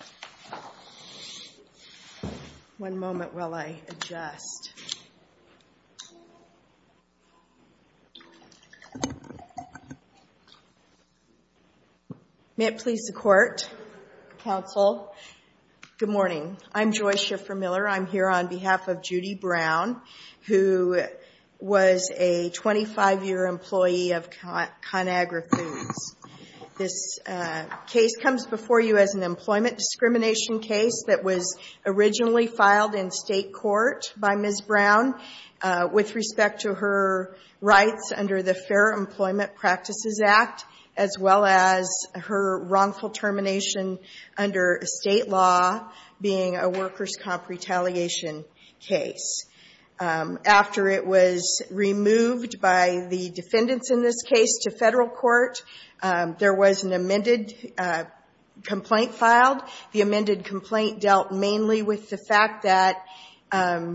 I'm here on behalf of Judy Brown, who was a 25-year employee of Conagra Foods. This case comes before you as an employment discrimination case that was originally filed in state court by Ms. Brown with respect to her rights under the Fair Employment Practices Act, as well as her wrongful termination under state law being a workers' comp retaliation case. After it was removed by the defendants in this case to federal court, there was an amended complaint filed. The amended complaint dealt mainly with the fact that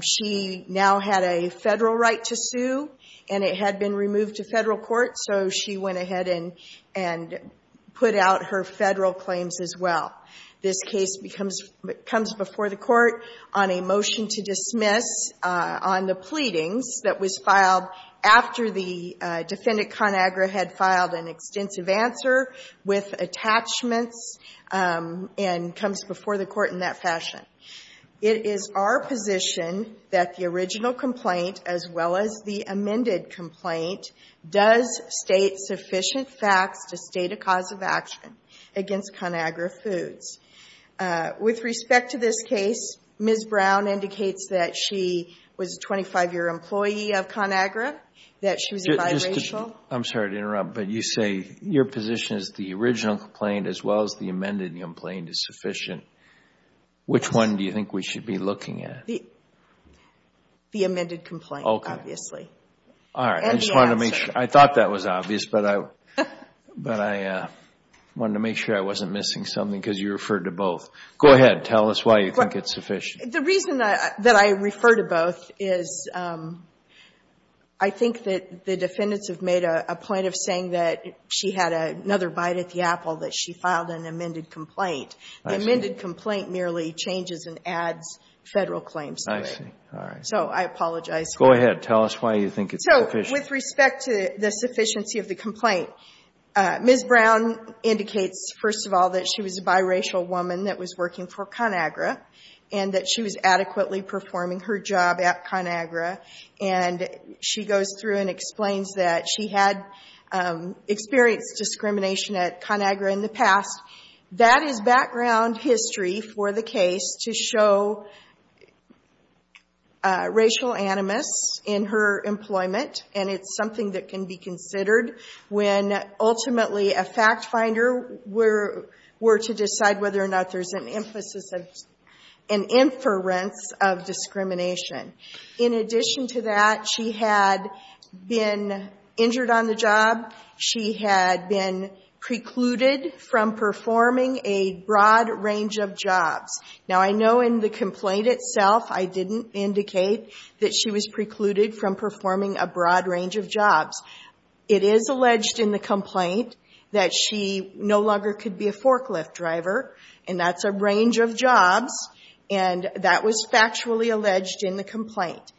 she now had a federal right to sue, and it had been removed to federal court. So she went ahead and put out her federal claims as well. This case comes before the court on a motion to dismiss on the pleadings that was filed after the defendant, Conagra, had filed an extensive answer with attachments and comes before the court in that fashion. It is our position that the original complaint, as well as the amended complaint, does state sufficient facts to state a cause of action against Conagra Foods. With respect to this case, Ms. Brown indicates that she was a 25-year employee of Conagra, that she was a biracial. I'm sorry to interrupt, but you say your position is the original complaint, as well as the amended complaint, is sufficient. Which one do you think we should be looking at? The amended complaint, obviously. All right, I just wanted to make sure. I thought that was obvious, but I wanted to make sure I wasn't missing something because you referred to both. Go ahead, tell us why you think it's sufficient. The reason that I refer to both is I think that the defendants have made a point of saying that she had another bite at the apple, that she filed an amended complaint. The amended complaint merely changes and adds Federal claims to it. So I apologize for that. Go ahead, tell us why you think it's sufficient. So with respect to the sufficiency of the complaint, Ms. Brown indicates, first of all, that she was a biracial woman that was working for Conagra and that she was adequately performing her job at Conagra. And she goes through and explains that she had experienced discrimination at Conagra in the past. That is background history for the case to show racial animus in her employment. And it's something that can be considered when, ultimately, a fact finder were to decide whether or not there's an inference of discrimination. In addition to that, she had been injured on the job. She had been precluded from performing a broad range of jobs. Now, I know in the complaint itself, I didn't indicate that she was precluded from performing a broad range of jobs. It is alleged in the complaint that she no longer could be a forklift driver. And that's a range of jobs. And that was factually alleged in the complaint.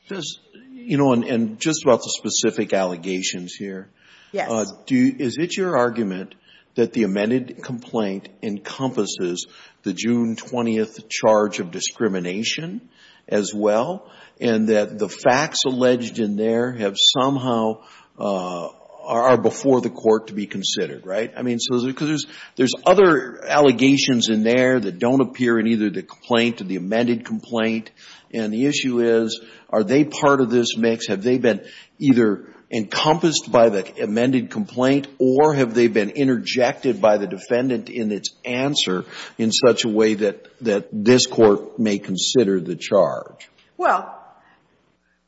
You know, and just about the specific allegations here, is it your argument that the amended complaint encompasses the June 20th charge of discrimination as well and that the facts alleged in there have somehow are before the court to be considered, right? I mean, because there's other allegations in there that don't appear in either the complaint or the amended complaint. And the issue is, are they part of this mix? Have they been either encompassed by the amended complaint, or have they been interjected by the defendant in its answer in such a way that this court may consider the charge? Well,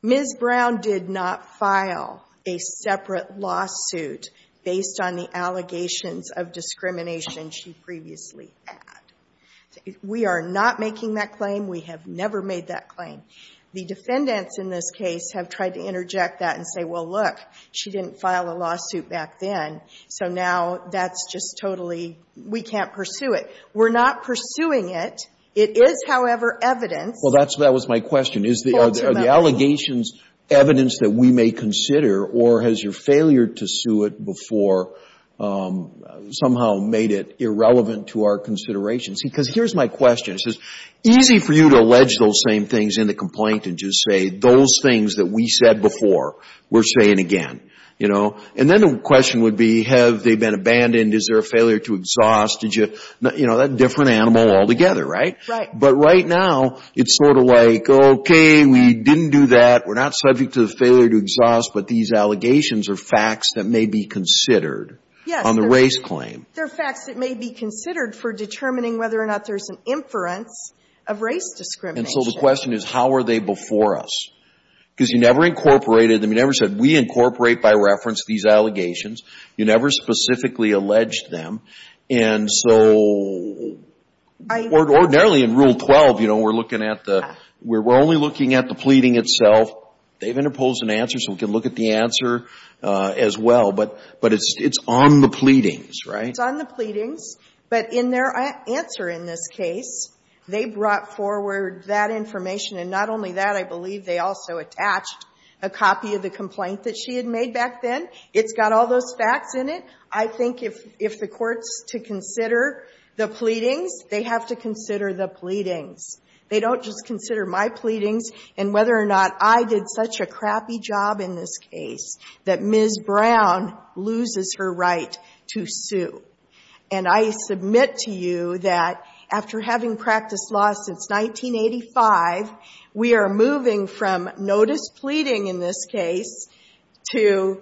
Ms. Brown did not file a separate lawsuit based on the allegations of discrimination she previously had. We are not making that claim. We have never made that claim. The defendants in this case have tried to interject that and say, well, look, she didn't file a lawsuit back then. So now that's just totally, we can't pursue it. We're not pursuing it. It is, however, evidence. Well, that was my question. Is the allegations evidence that we may consider, or has your failure to sue it before somehow made it irrelevant to our considerations? Because here's my question. It's just easy for you to allege those same things in the complaint and just say, those things that we said before, we're saying again. And then the question would be, have they been abandoned? Is there a failure to exhaust? That's a different animal altogether, right? But right now, it's sort of like, OK, we didn't do that. We're not subject to the failure to exhaust, but these allegations are facts that may be considered on the race claim. They're facts that may be considered for determining whether or not there's an inference of race discrimination. And so the question is, how are they before us? Because you never incorporated them. You never said, we incorporate by reference these allegations. You never specifically alleged them. And so ordinarily, in Rule 12, we're only looking at the pleading itself. They've interposed an answer, so we can look at the answer as well. But it's on the pleadings, right? It's on the pleadings. But in their answer in this case, they brought forward that information. And not only that, I believe they also attached a copy of the complaint that she had made back then. It's got all those facts in it. I think if the court's to consider the pleadings, they have to consider the pleadings. They don't just consider my pleadings and whether or not I did such a crappy job in this case that Ms. Brown loses her right to sue. And I submit to you that after having practiced law since 1985, we are moving from notice pleading in this case to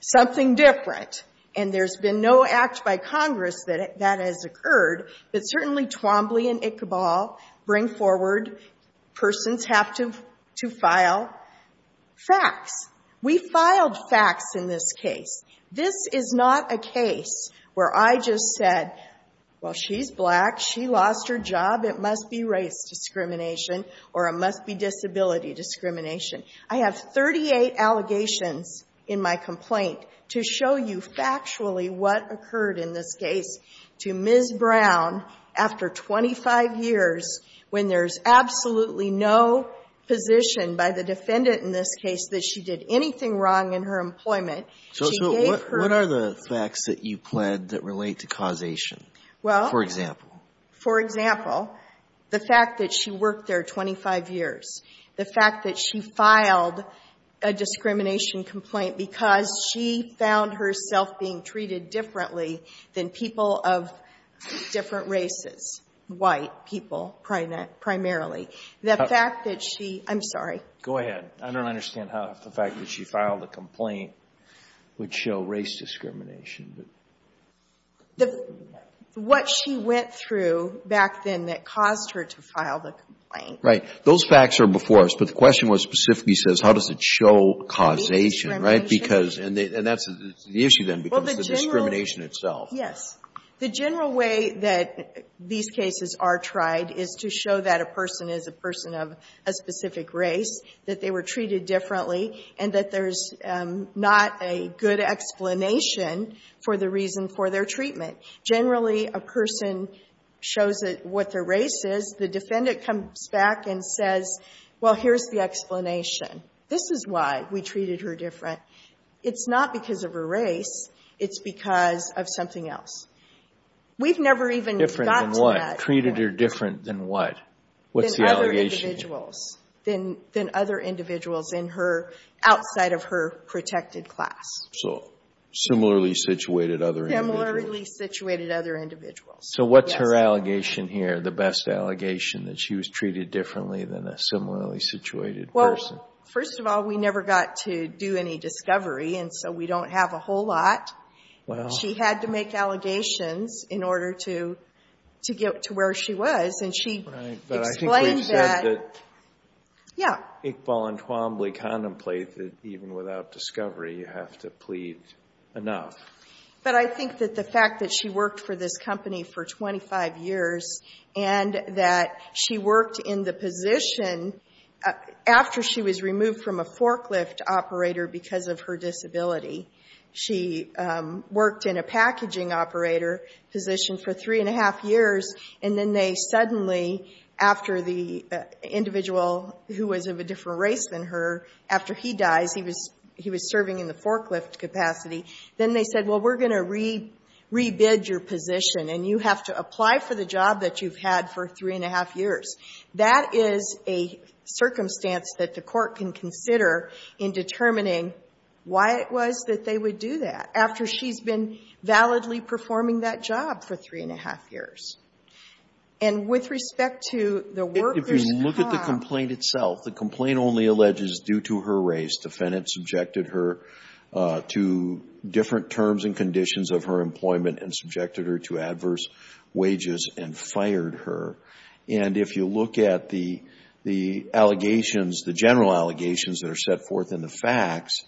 something different. And there's been no act by Congress that has occurred. But certainly Twombly and Ichabal bring forward persons have to file facts. We filed facts in this case. This is not a case where I just said, well, she's black. She lost her job. It must be race discrimination, or it must be disability discrimination. I have 38 allegations in my complaint to show you factually what occurred in this case to Ms. Brown after 25 years when there's absolutely no position by the defendant in this case that she did anything wrong in her employment. So what are the facts that you pled that relate to causation, for example? For example, the fact that she worked there 25 years, the fact that she filed a discrimination complaint because she found herself being treated differently than people of different races, white people primarily. The fact that she, I'm sorry. Go ahead. I don't understand how the fact that she filed a complaint would show race discrimination. What she went through back then that caused her to file the complaint. Right. Those facts are before us. But the question was specifically says, how does it show causation, right? Because, and that's the issue then, becomes the discrimination itself. Yes. The general way that these cases are tried is to show that a person is a person of a specific race, that they were treated differently, and that there's not a good explanation for the reason for their treatment. Generally, a person shows what their race is. The defendant comes back and says, well, here's the explanation. This is why we treated her different. It's not because of her race. It's because of something else. We've never even gotten to that point. Treated her different than what? What's the allegation? Than other individuals outside of her protected class. So similarly situated other individuals. Similarly situated other individuals. So what's her allegation here, the best allegation, that she was treated differently than a similarly situated person? First of all, we never got to do any discovery, and so we don't have a whole lot. She had to make allegations in order to get to where she was. And she explained that. Right, but I think we've said that Iqbal and Twombly contemplate that even without discovery, you have to plead enough. But I think that the fact that she worked for this company for 25 years, and that she worked in the position after she was removed from a forklift operator because of her disability. She worked in a packaging operator position for three and a half years, and then they suddenly, after the individual who was of a different race than her, after he dies, he was serving in the forklift capacity. Then they said, well, we're going to re-bid your position, and you have to apply for the job that you've had for three and a half years. That is a circumstance that the court can consider in determining why it was that they would do that after she's been validly performing that job for three and a half years. And with respect to the worker's job. If you look at the complaint itself, the complaint only alleges due to her race. Defendant subjected her to different terms and conditions of her employment and subjected her to adverse wages and fired her. And if you look at the allegations, the general allegations that are set forth in the facts,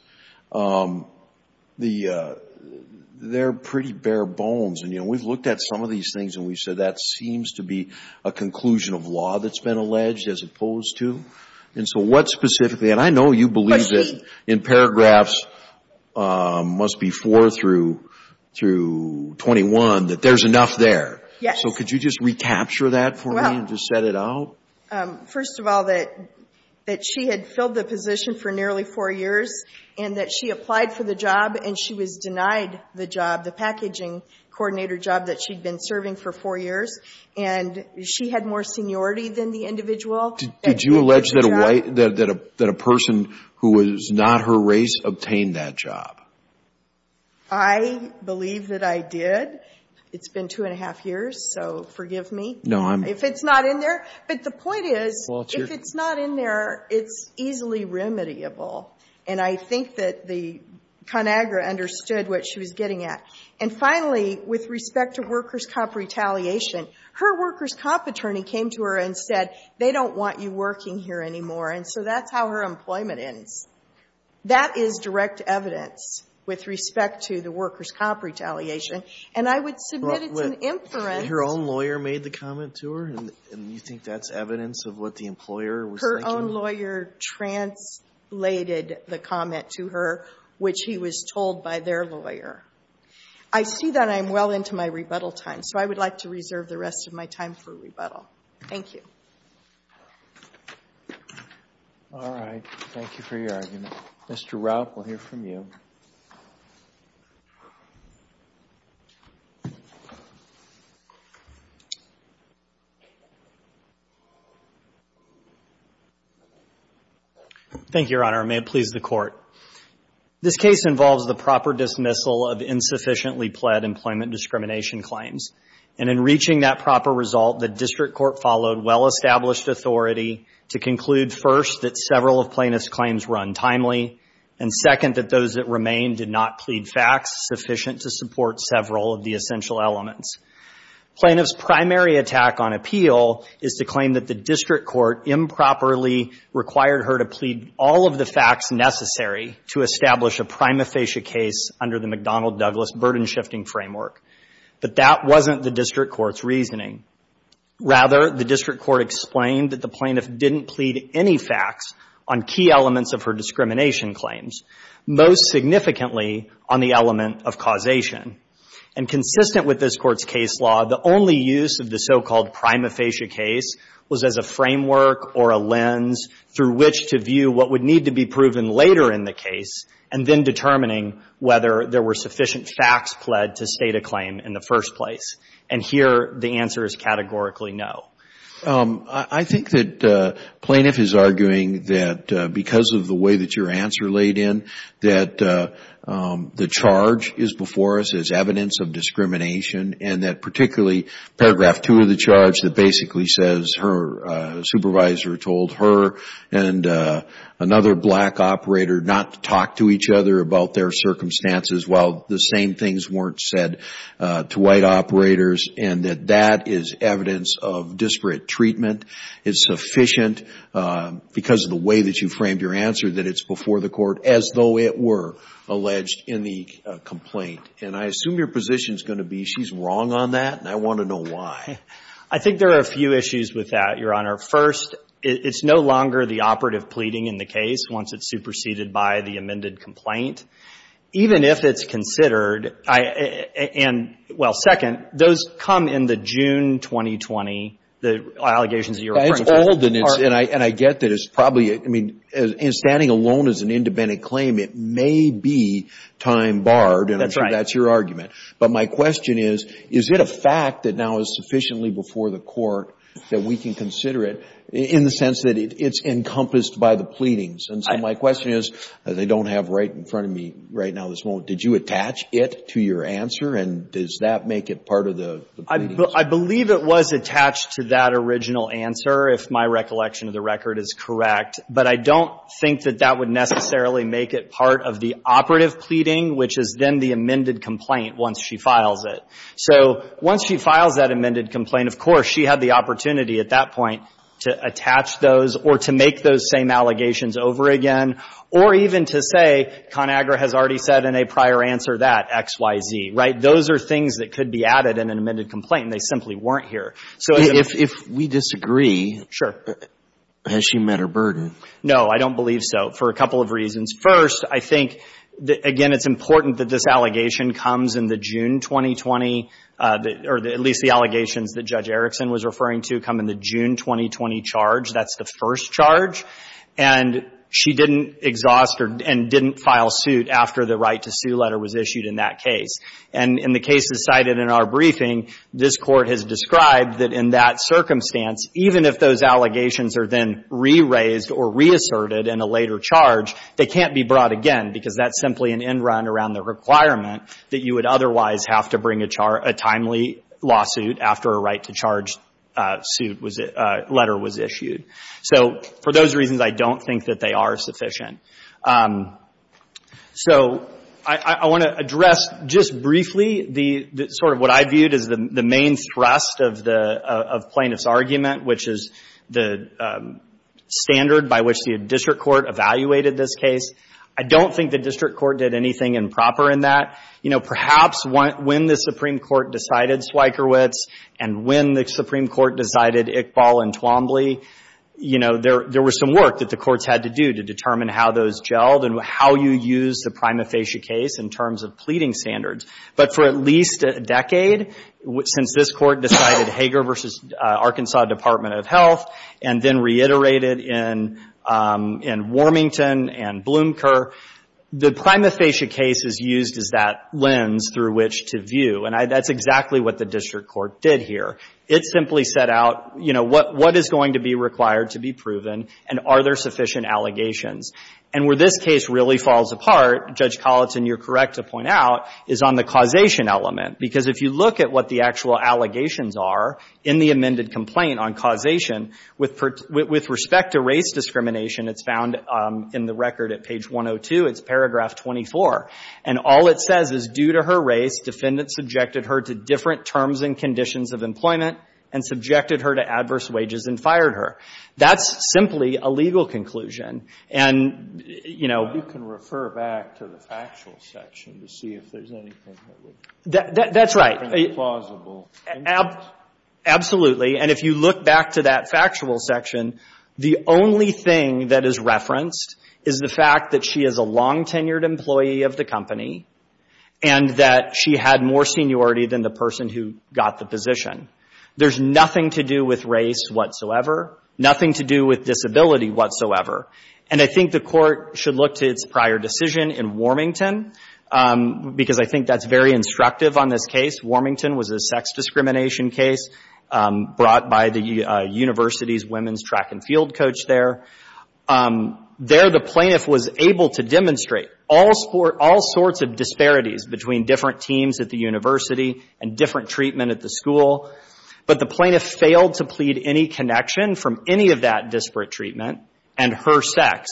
they're pretty bare bones. And we've looked at some of these things and we've said that seems to be a conclusion of law that's been alleged as opposed to. And so what specifically, and I know you believe that in paragraphs must be four through 21, that there's enough there. So could you just recapture that for me and just set it out? First of all, that she had filled the position for nearly four years and that she applied for the job and she was denied the job, the packaging coordinator job that she'd been serving for four years. And she had more seniority than the individual. Did you allege that a person who was not her race obtained that job? I believe that I did. It's been two and a half years. So forgive me if it's not in there. But the point is, if it's not in there, it's easily remediable. And I think that the ConAgra understood what she was getting at. And finally, with respect to workers' comp retaliation, her workers' comp attorney came to her and said, they don't want you working here anymore. And so that's how her employment ends. That is direct evidence with respect to the workers' comp retaliation. And I would submit it's an inference. Her own lawyer made the comment to her? And you think that's evidence of what the employer was thinking? Her own lawyer translated the comment to her, which he was told by their lawyer. I see that I'm well into my rebuttal time. So I would like to reserve the rest of my time for rebuttal. Thank you. All right. Thank you for your argument. Mr. Rupp, we'll hear from you. Thank you. Thank you, Your Honor. May it please the Court. This case involves the proper dismissal of insufficiently pled employment discrimination claims. And in reaching that proper result, the district court followed well-established authority to conclude, first, that several of plaintiff's claims were untimely, and second, that those that remained did not plead facts sufficient to support several of the essential elements. Plaintiff's primary attack on appeal is to claim that the district court improperly required her to plead all of the facts necessary to establish a prima facie case under the McDonnell Douglas burden shifting framework. But that wasn't the district court's reasoning. Rather, the district court explained that the plaintiff didn't plead any facts on key elements of her discrimination claims, most significantly on the element of causation. And consistent with this court's case law, the only use of the so-called prima facie case was as a framework or a lens through which to view what would need to be proven later in the case, and then determining whether there were sufficient facts pled to state a claim in the first place. And here, the answer is categorically no. I think that plaintiff is arguing that because of the way that your answer laid in, that the charge is before us as evidence of discrimination, and that particularly paragraph 2 of the charge that basically says her supervisor told her and another black operator not to talk to each other about their circumstances while the same things weren't said to white operators, and that that is evidence of disparate treatment. It's sufficient because of the way that you framed your answer that it's before the court as though it were alleged in the complaint. And I assume your position is going to be she's wrong on that, and I want to know why. I think there are a few issues with that, Your Honor. First, it's no longer the operative pleading in the case once it's superseded by the amended complaint. Even if it's considered, and well, second, those come in the June 2020, the allegations that you're referring to. It's old, and I get that it's probably, I mean, standing alone as an independent claim, it may be time barred, and I'm sure that's your argument. But my question is, is it a fact that now is sufficiently before the court that we can consider it in the sense that it's encompassed by the pleadings? And so my question is, as I don't have right in front of me right now this moment, did you attach it to your answer, and does that make it part of the pleadings? I believe it was attached to that original answer, if my recollection of the record is correct. But I don't think that that would necessarily make it part of the operative pleading, which is then the amended complaint once she files it. So once she files that amended complaint, of course she had the opportunity at that point to attach those or to make those same allegations over again, or even to say, ConAgra has already said in a prior answer that, X, Y, Z, right? Those are things that could be added in an amended complaint, and they simply weren't here. So if we disagree, has she met her burden? No, I don't believe so, for a couple of reasons. First, I think, again, it's important that this allegation comes in the June 2020, or at least the allegations that Judge Erickson was referring to come in the June 2020 charge. That's the first charge. And she didn't exhaust or didn't file suit after the right to sue letter was issued in that case. And in the cases cited in our briefing, this Court has described that in that circumstance, even if those allegations are then re-raised or reasserted in a later charge, they can't be brought again, because that's simply an end run around the requirement that you would otherwise have to bring a timely lawsuit after a right to charge letter was issued. So for those reasons, I don't think that they are sufficient. So I want to address just briefly sort of what I viewed as the main thrust of the plaintiff's argument, which is the standard by which the district court evaluated this case. I don't think the district court did anything improper in that. Perhaps when the Supreme Court decided Swiekerwitz and when the Supreme Court decided Iqbal and Twombly, there was some work that the courts had to do to determine how those gelled and how you use the prima facie case in terms of pleading standards. But for at least a decade, since this court decided Hager versus Arkansas Department of Health and then reiterated in Warmington and Bloom Kerr, the prima facie case is used as that lens through which to view. And that's exactly what the district court did here. It simply set out what is going to be required to be proven and are there sufficient allegations. And where this case really falls apart, Judge Colleton, you're correct to point out, is on the causation element. Because if you look at what the actual allegations are in the amended complaint on causation, with respect to race discrimination, it's found in the record at page 102. It's paragraph 24. And all it says is, due to her race, defendant subjected her to different terms and conditions of employment and subjected her to adverse wages and fired her. That's simply a legal conclusion. And, you know. You can refer back to the factual section to see if there's anything that would be plausible. That's right. Absolutely. And if you look back to that factual section, the only thing that is referenced is the fact that she is a long tenured employee of the company. And that she had more seniority than the person who got the position. There's nothing to do with race whatsoever. Nothing to do with disability whatsoever. And I think the court should look to its prior decision in Warmington. Because I think that's very instructive on this case. Warmington was a sex discrimination case brought by the university's women's track and field coach there. There, the plaintiff was able to demonstrate all sorts of disparities between different teams at the university and different treatment at the school. But the plaintiff failed to plead any connection from any of that disparate treatment and her sex.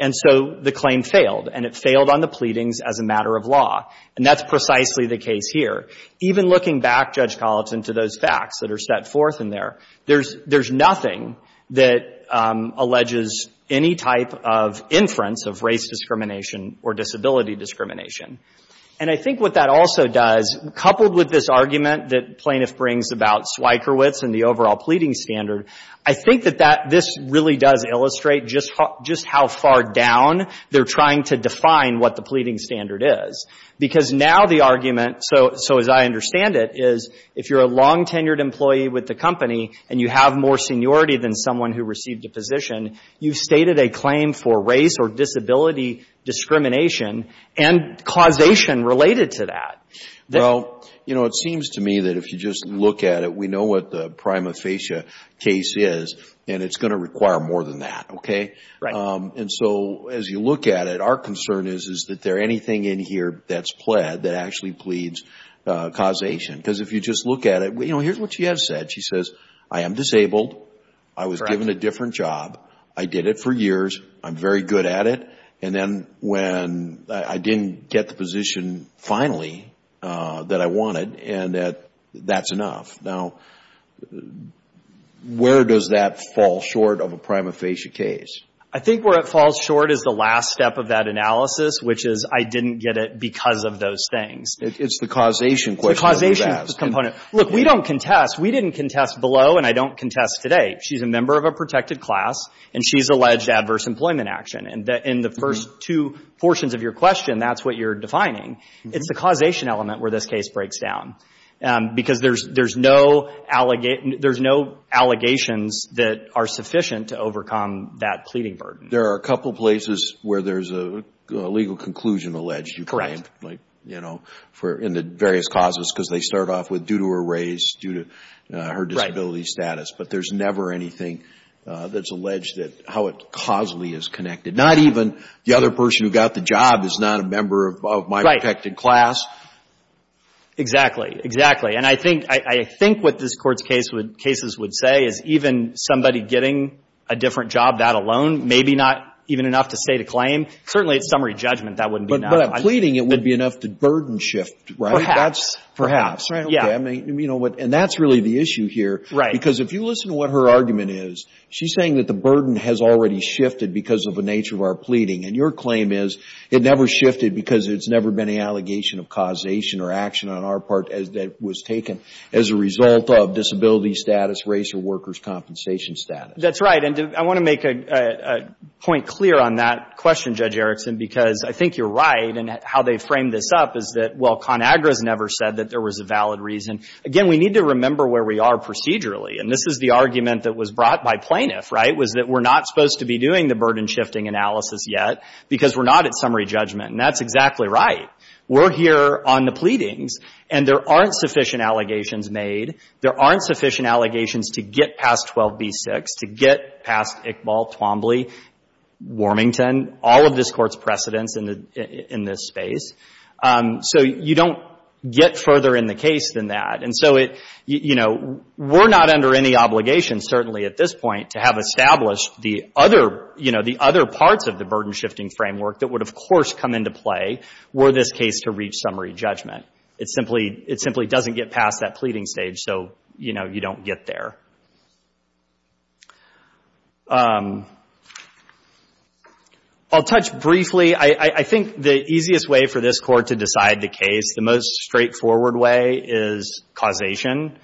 And so the claim failed. And it failed on the pleadings as a matter of law. And that's precisely the case here. Even looking back, Judge Colleton, to those facts that are set forth in there, there's nothing that alleges any type of inference of race discrimination or disability discrimination. And I think what that also does, coupled with this argument that plaintiff brings about Swikerowitz and the overall pleading standard, I think that this really does illustrate just how far down they're trying to define what the pleading standard is. Because now the argument, so as I understand it, is if you're a long-tenured employee with the company and you have more seniority than someone who received a position, you've stated a claim for race or disability discrimination and causation related to that. Well, it seems to me that if you just look at it, we know what the prima facie case is. And it's going to require more than that. And so as you look at it, our concern is, is that there anything in here that's pled that actually pleads causation? Because if you just look at it, here's what she has said. She says, I am disabled. I was given a different job. I did it for years. I'm very good at it. And then when I didn't get the position, finally, that I wanted, and that's enough. Now, where does that fall short of a prima facie case? I think where it falls short is the last step of that analysis, which is I didn't get it because of those things. It's the causation question that we've asked. It's the causation component. Look, we don't contest. We didn't contest below. And I don't contest today. She's a member of a protected class. And she's alleged adverse employment action. In the first two portions of your question, that's what you're defining. It's the causation element where this case breaks down. Because there's no allegations that are sufficient to overcome that pleading burden. There are a couple places where there's a legal conclusion alleged, you claim, in the various causes, because they start off with due to her race, due to her disability status. But there's never anything that's alleged that how it causally is connected. The other person who got the job is not a member of my protected class. Exactly. Exactly. And I think what this Court's cases would say is even somebody getting a different job, that alone, may be not even enough to state a claim. Certainly, at summary judgment, that wouldn't be enough. But at pleading, it would be enough to burden shift, right? Perhaps. Perhaps. Yeah. And that's really the issue here. Because if you listen to what her argument is, she's saying that the burden has already shifted because of our pleading. And your claim is it never shifted because it's never been an allegation of causation or action on our part that was taken as a result of disability status, race or workers compensation status. That's right. And I want to make a point clear on that question, Judge Erickson, because I think you're right. And how they framed this up is that, well, ConAgra's never said that there was a valid reason. Again, we need to remember where we are procedurally. And this is the argument that was brought by plaintiff, right? Was that we're not supposed to be doing the burden shifting analysis yet because we're not at summary judgment. And that's exactly right. We're here on the pleadings. And there aren't sufficient allegations made. There aren't sufficient allegations to get past 12b-6, to get past Iqbal, Twombly, Warmington, all of this Court's precedents in this space. So you don't get further in the case than that. And so we're not under any obligation, certainly at this point, to have established the other parts of the burden shifting framework that would, of course, come into play were this case to reach summary judgment. It simply doesn't get past that pleading stage. So you don't get there. I'll touch briefly. I think the easiest way for this Court to decide the case, the most straightforward way, is causation,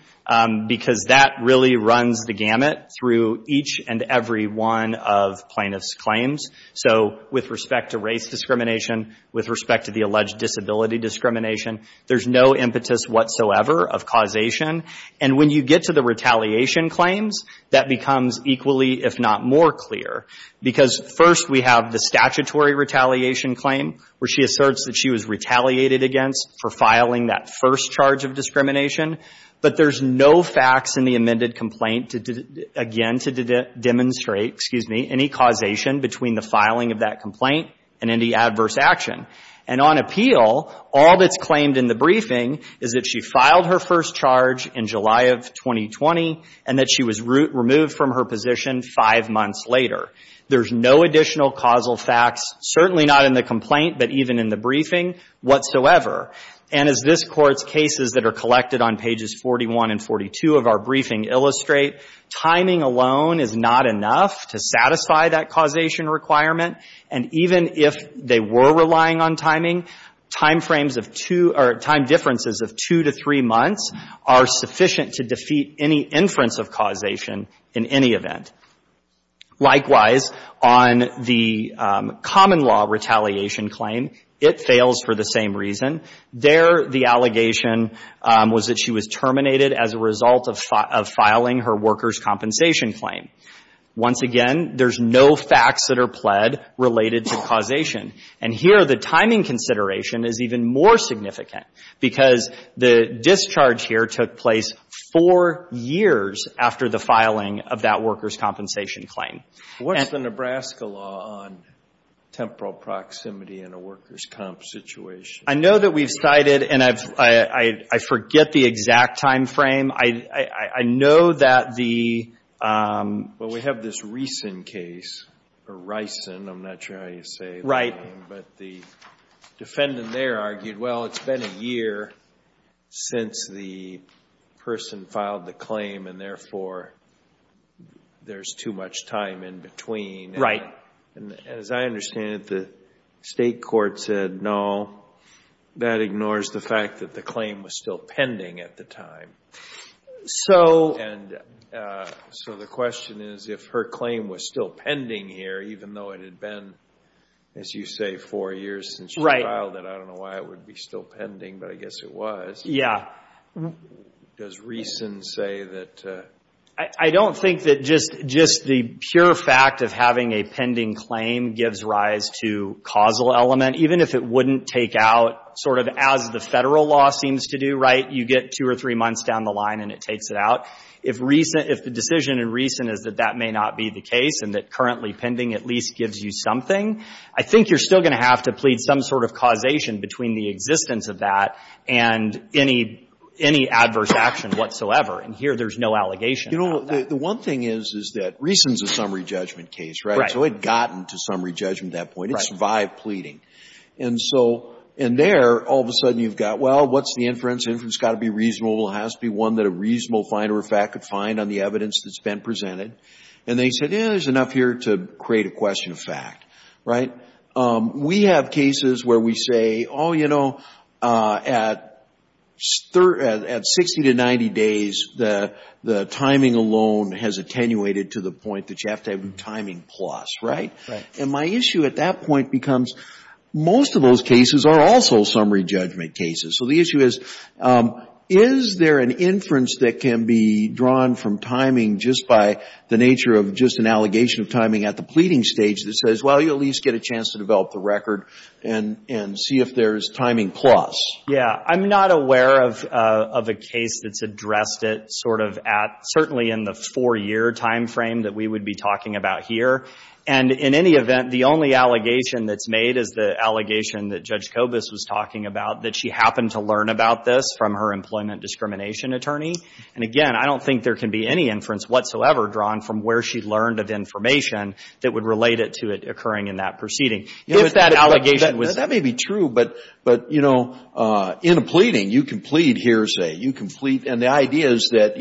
because that really runs the gamut through each and every one of plaintiff's claims. So with respect to race discrimination, with respect to the alleged disability discrimination, there's no impetus whatsoever of causation. And when you get to the retaliation claims, that becomes equally, if not more clear. Because first, we have the statutory retaliation claim, that first charge of discrimination. But there's no facts in the amended complaint, again, to demonstrate any causation between the filing of that complaint and any adverse action. And on appeal, all that's claimed in the briefing is that she filed her first charge in July of 2020, and that she was removed from her position five months later. There's no additional causal facts, certainly not in the complaint, but even in the briefing whatsoever. And as this Court's cases that are on pages 41 and 42 of our briefing illustrate, timing alone is not enough to satisfy that causation requirement. And even if they were relying on timing, time differences of two to three months are sufficient to defeat any inference of causation in any event. Likewise, on the common law retaliation claim, it fails for the same reason. There, the allegation was that she was terminated as a result of filing her workers' compensation claim. Once again, there's no facts that are pled related to causation. And here, the timing consideration is even more significant, because the discharge here took place four years after the filing of that workers' compensation claim. What's the Nebraska law on temporal proximity in a workers' comp situation? I know that we've cited, and I forget the exact time frame. I know that the, um. Well, we have this recent case, or Rison, I'm not sure how you say the name. But the defendant there argued, well, it's been a year since the person filed the claim, and therefore, there's too much time in between. Right. And as I understand it, the state court said, no. That ignores the fact that the claim was still pending at the time. So. And so the question is, if her claim was still pending here, even though it had been, as you say, four years since she filed it. I don't know why it would be still pending, but I guess it was. Yeah. Does Rison say that? I don't think that just the pure fact of having a pending claim gives rise to causal element. Even if it wouldn't take out, sort of as the Federal law seems to do, right? You get two or three months down the line, and it takes it out. If Rison, if the decision in Rison is that that may not be the case, and that currently pending at least gives you something, I think you're still going to have to plead some sort of causation between the existence of that and any, any adverse action whatsoever. And here, there's no allegation. You know, the one thing is, is that Rison's a summary judgment case, right? So it had gotten to summary judgment at that point. It survived pleading. And so, and there, all of a sudden, you've got, well, what's the inference? The inference has got to be reasonable. It has to be one that a reasonable finder of fact could find on the evidence that's been presented. And they said, yeah, there's enough here to create a question of fact, right? We have cases where we say, oh, you know, at 60 to 90 days, the timing alone has attenuated to the point that you have to have a timing plus, right? And my issue at that point becomes, most of those cases are also summary judgment cases. So the issue is, is there an inference that can be drawn from timing just by the nature of just an allegation of timing at the pleading stage that says, well, you at least get a chance to develop the record and see if there is timing plus? Yeah, I'm not aware of a case that's addressed it sort of at, certainly in the four-year time frame that we would be talking about here. And in any event, the only allegation that's made is the allegation that Judge Kobus was talking about, that she happened to learn about this from her employment discrimination attorney. And again, I don't think there can be any inference whatsoever drawn from where she learned of information that would relate it to it occurring in that proceeding. If that allegation was. That may be true, but in a pleading, you can plead hearsay. You can plead. And the idea is that,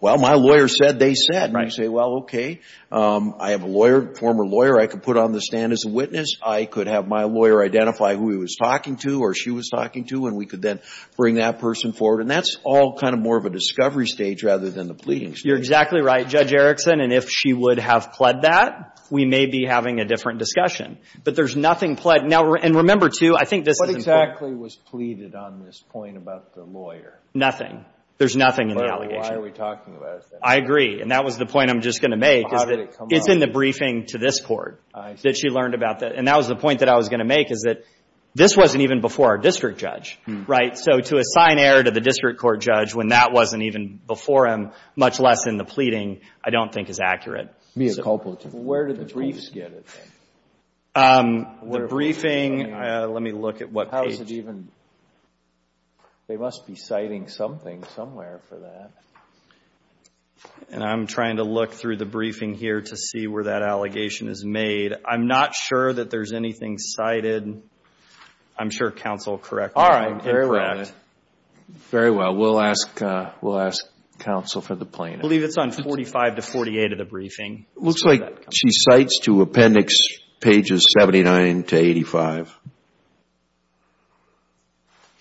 well, my lawyer said they said. And you say, well, OK, I have a lawyer, former lawyer. I could put on the stand as a witness. I could have my lawyer identify who he was talking to or she was talking to. And we could then bring that person forward. And that's all kind of more of a discovery stage rather than the pleading stage. You're exactly right, Judge Erickson. And if she would have pled that, we may be having a different discussion. But there's nothing pled. And remember, too, I think this is important. What exactly was pleaded on this point about the lawyer? Nothing. There's nothing in the allegation. But why are we talking about it, then? I agree. And that was the point I'm just going to make is that it's in the briefing to this court that she learned about that. And that was the point that I was going to make is that this wasn't even before our district judge, right? So to assign error to the district court judge when that wasn't even before him, much less in the pleading, I don't think is accurate. Mia Coppola, too. Where did the briefs get it? The briefing, let me look at what page. Is it even? They must be citing something somewhere for that. And I'm trying to look through the briefing here to see where that allegation is made. I'm not sure that there's anything cited. I'm sure counsel will correct me if I'm incorrect. Very well, we'll ask counsel for the plaintiff. I believe it's on 45 to 48 of the briefing. It looks like she cites to appendix pages 79 to 85.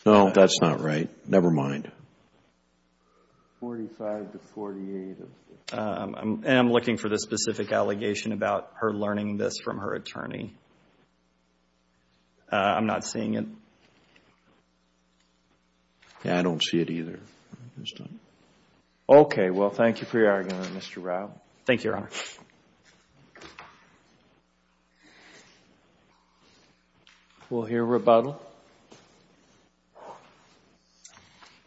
No, that's not right. Never mind. 45 to 48 of the. And I'm looking for the specific allegation about her learning this from her attorney. I'm not seeing it. Yeah, I don't see it either. OK, well, thank you for your argument, Mr. Rao. Thank you, Your Honor. We'll hear rebuttal.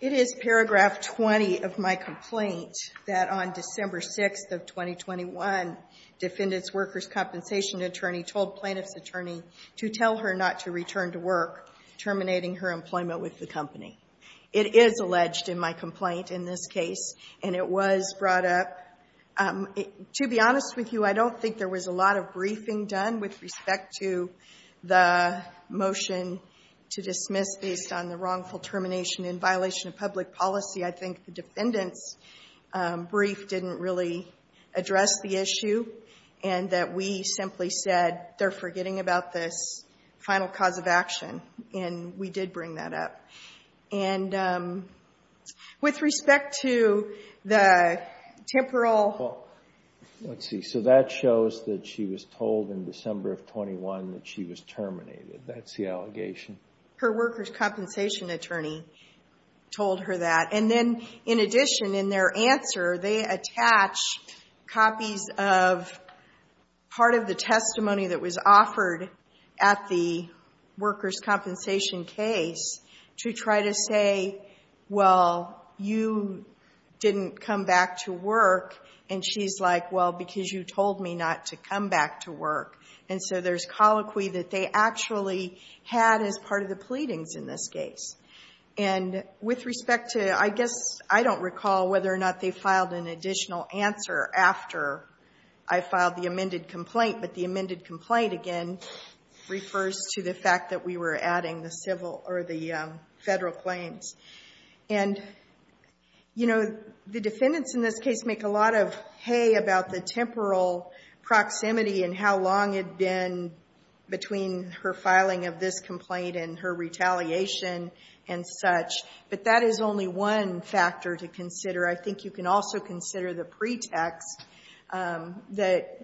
It is paragraph 20 of my complaint that on December 6 of 2021, defendant's workers' compensation attorney told plaintiff's attorney to tell her not to return to work, terminating her employment with the company. It is alleged in my complaint in this case, and it was brought up. To be honest with you, I don't think there was a lot of briefing done with respect to the motion to dismiss based on the wrongful termination in violation of public policy. I think the defendant's brief didn't really address the issue, and that we simply said they're forgetting about this final cause of action. And we did bring that up. And with respect to the temporal. Let's see, so that shows that she was told in December of 21 that she was terminated. That's the allegation. Her workers' compensation attorney told her that. And then, in addition, in their answer, they attach copies of part of the testimony that was offered at the workers' compensation case to try to say, well, you didn't come back to work. And she's like, well, because you told me not to come back to work. And so there's colloquy that they actually had as part of the pleadings in this case. And with respect to, I guess, I don't recall whether or not they filed an additional answer after I filed the amended complaint. But the amended complaint, again, refers to the fact that we were adding the federal claims. And the defendants in this case make a lot of hay about the temporal proximity and how long it had been between her filing of this complaint and her retaliation and such. But that is only one factor to consider. I think you can also consider the pretext that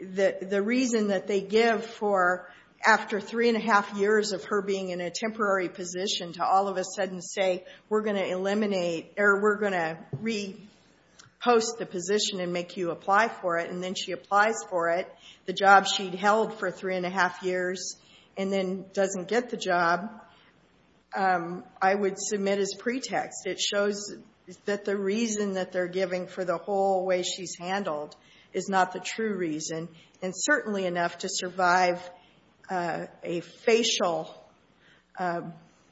the reason that they give for, after 3 and 1⁄2 years of her being in a temporary position, to all of a sudden say, we're going to eliminate, or we're going to repost the position and make you apply for it. And then she applies for it, the job she'd held for 3 and 1⁄2 years, and then doesn't get the job, I would submit as pretext. It shows that the reason that they're giving for the whole way she's handled is not the true reason. And certainly enough to survive a facial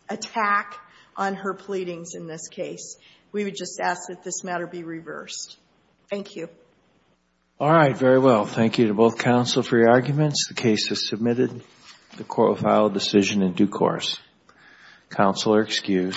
attack on her pleadings in this case. We would just ask that this matter be reversed. Thank you. All right, very well. Thank you to both counsel for your arguments. The case is submitted. The court will file a decision in due course. Counsel are excused.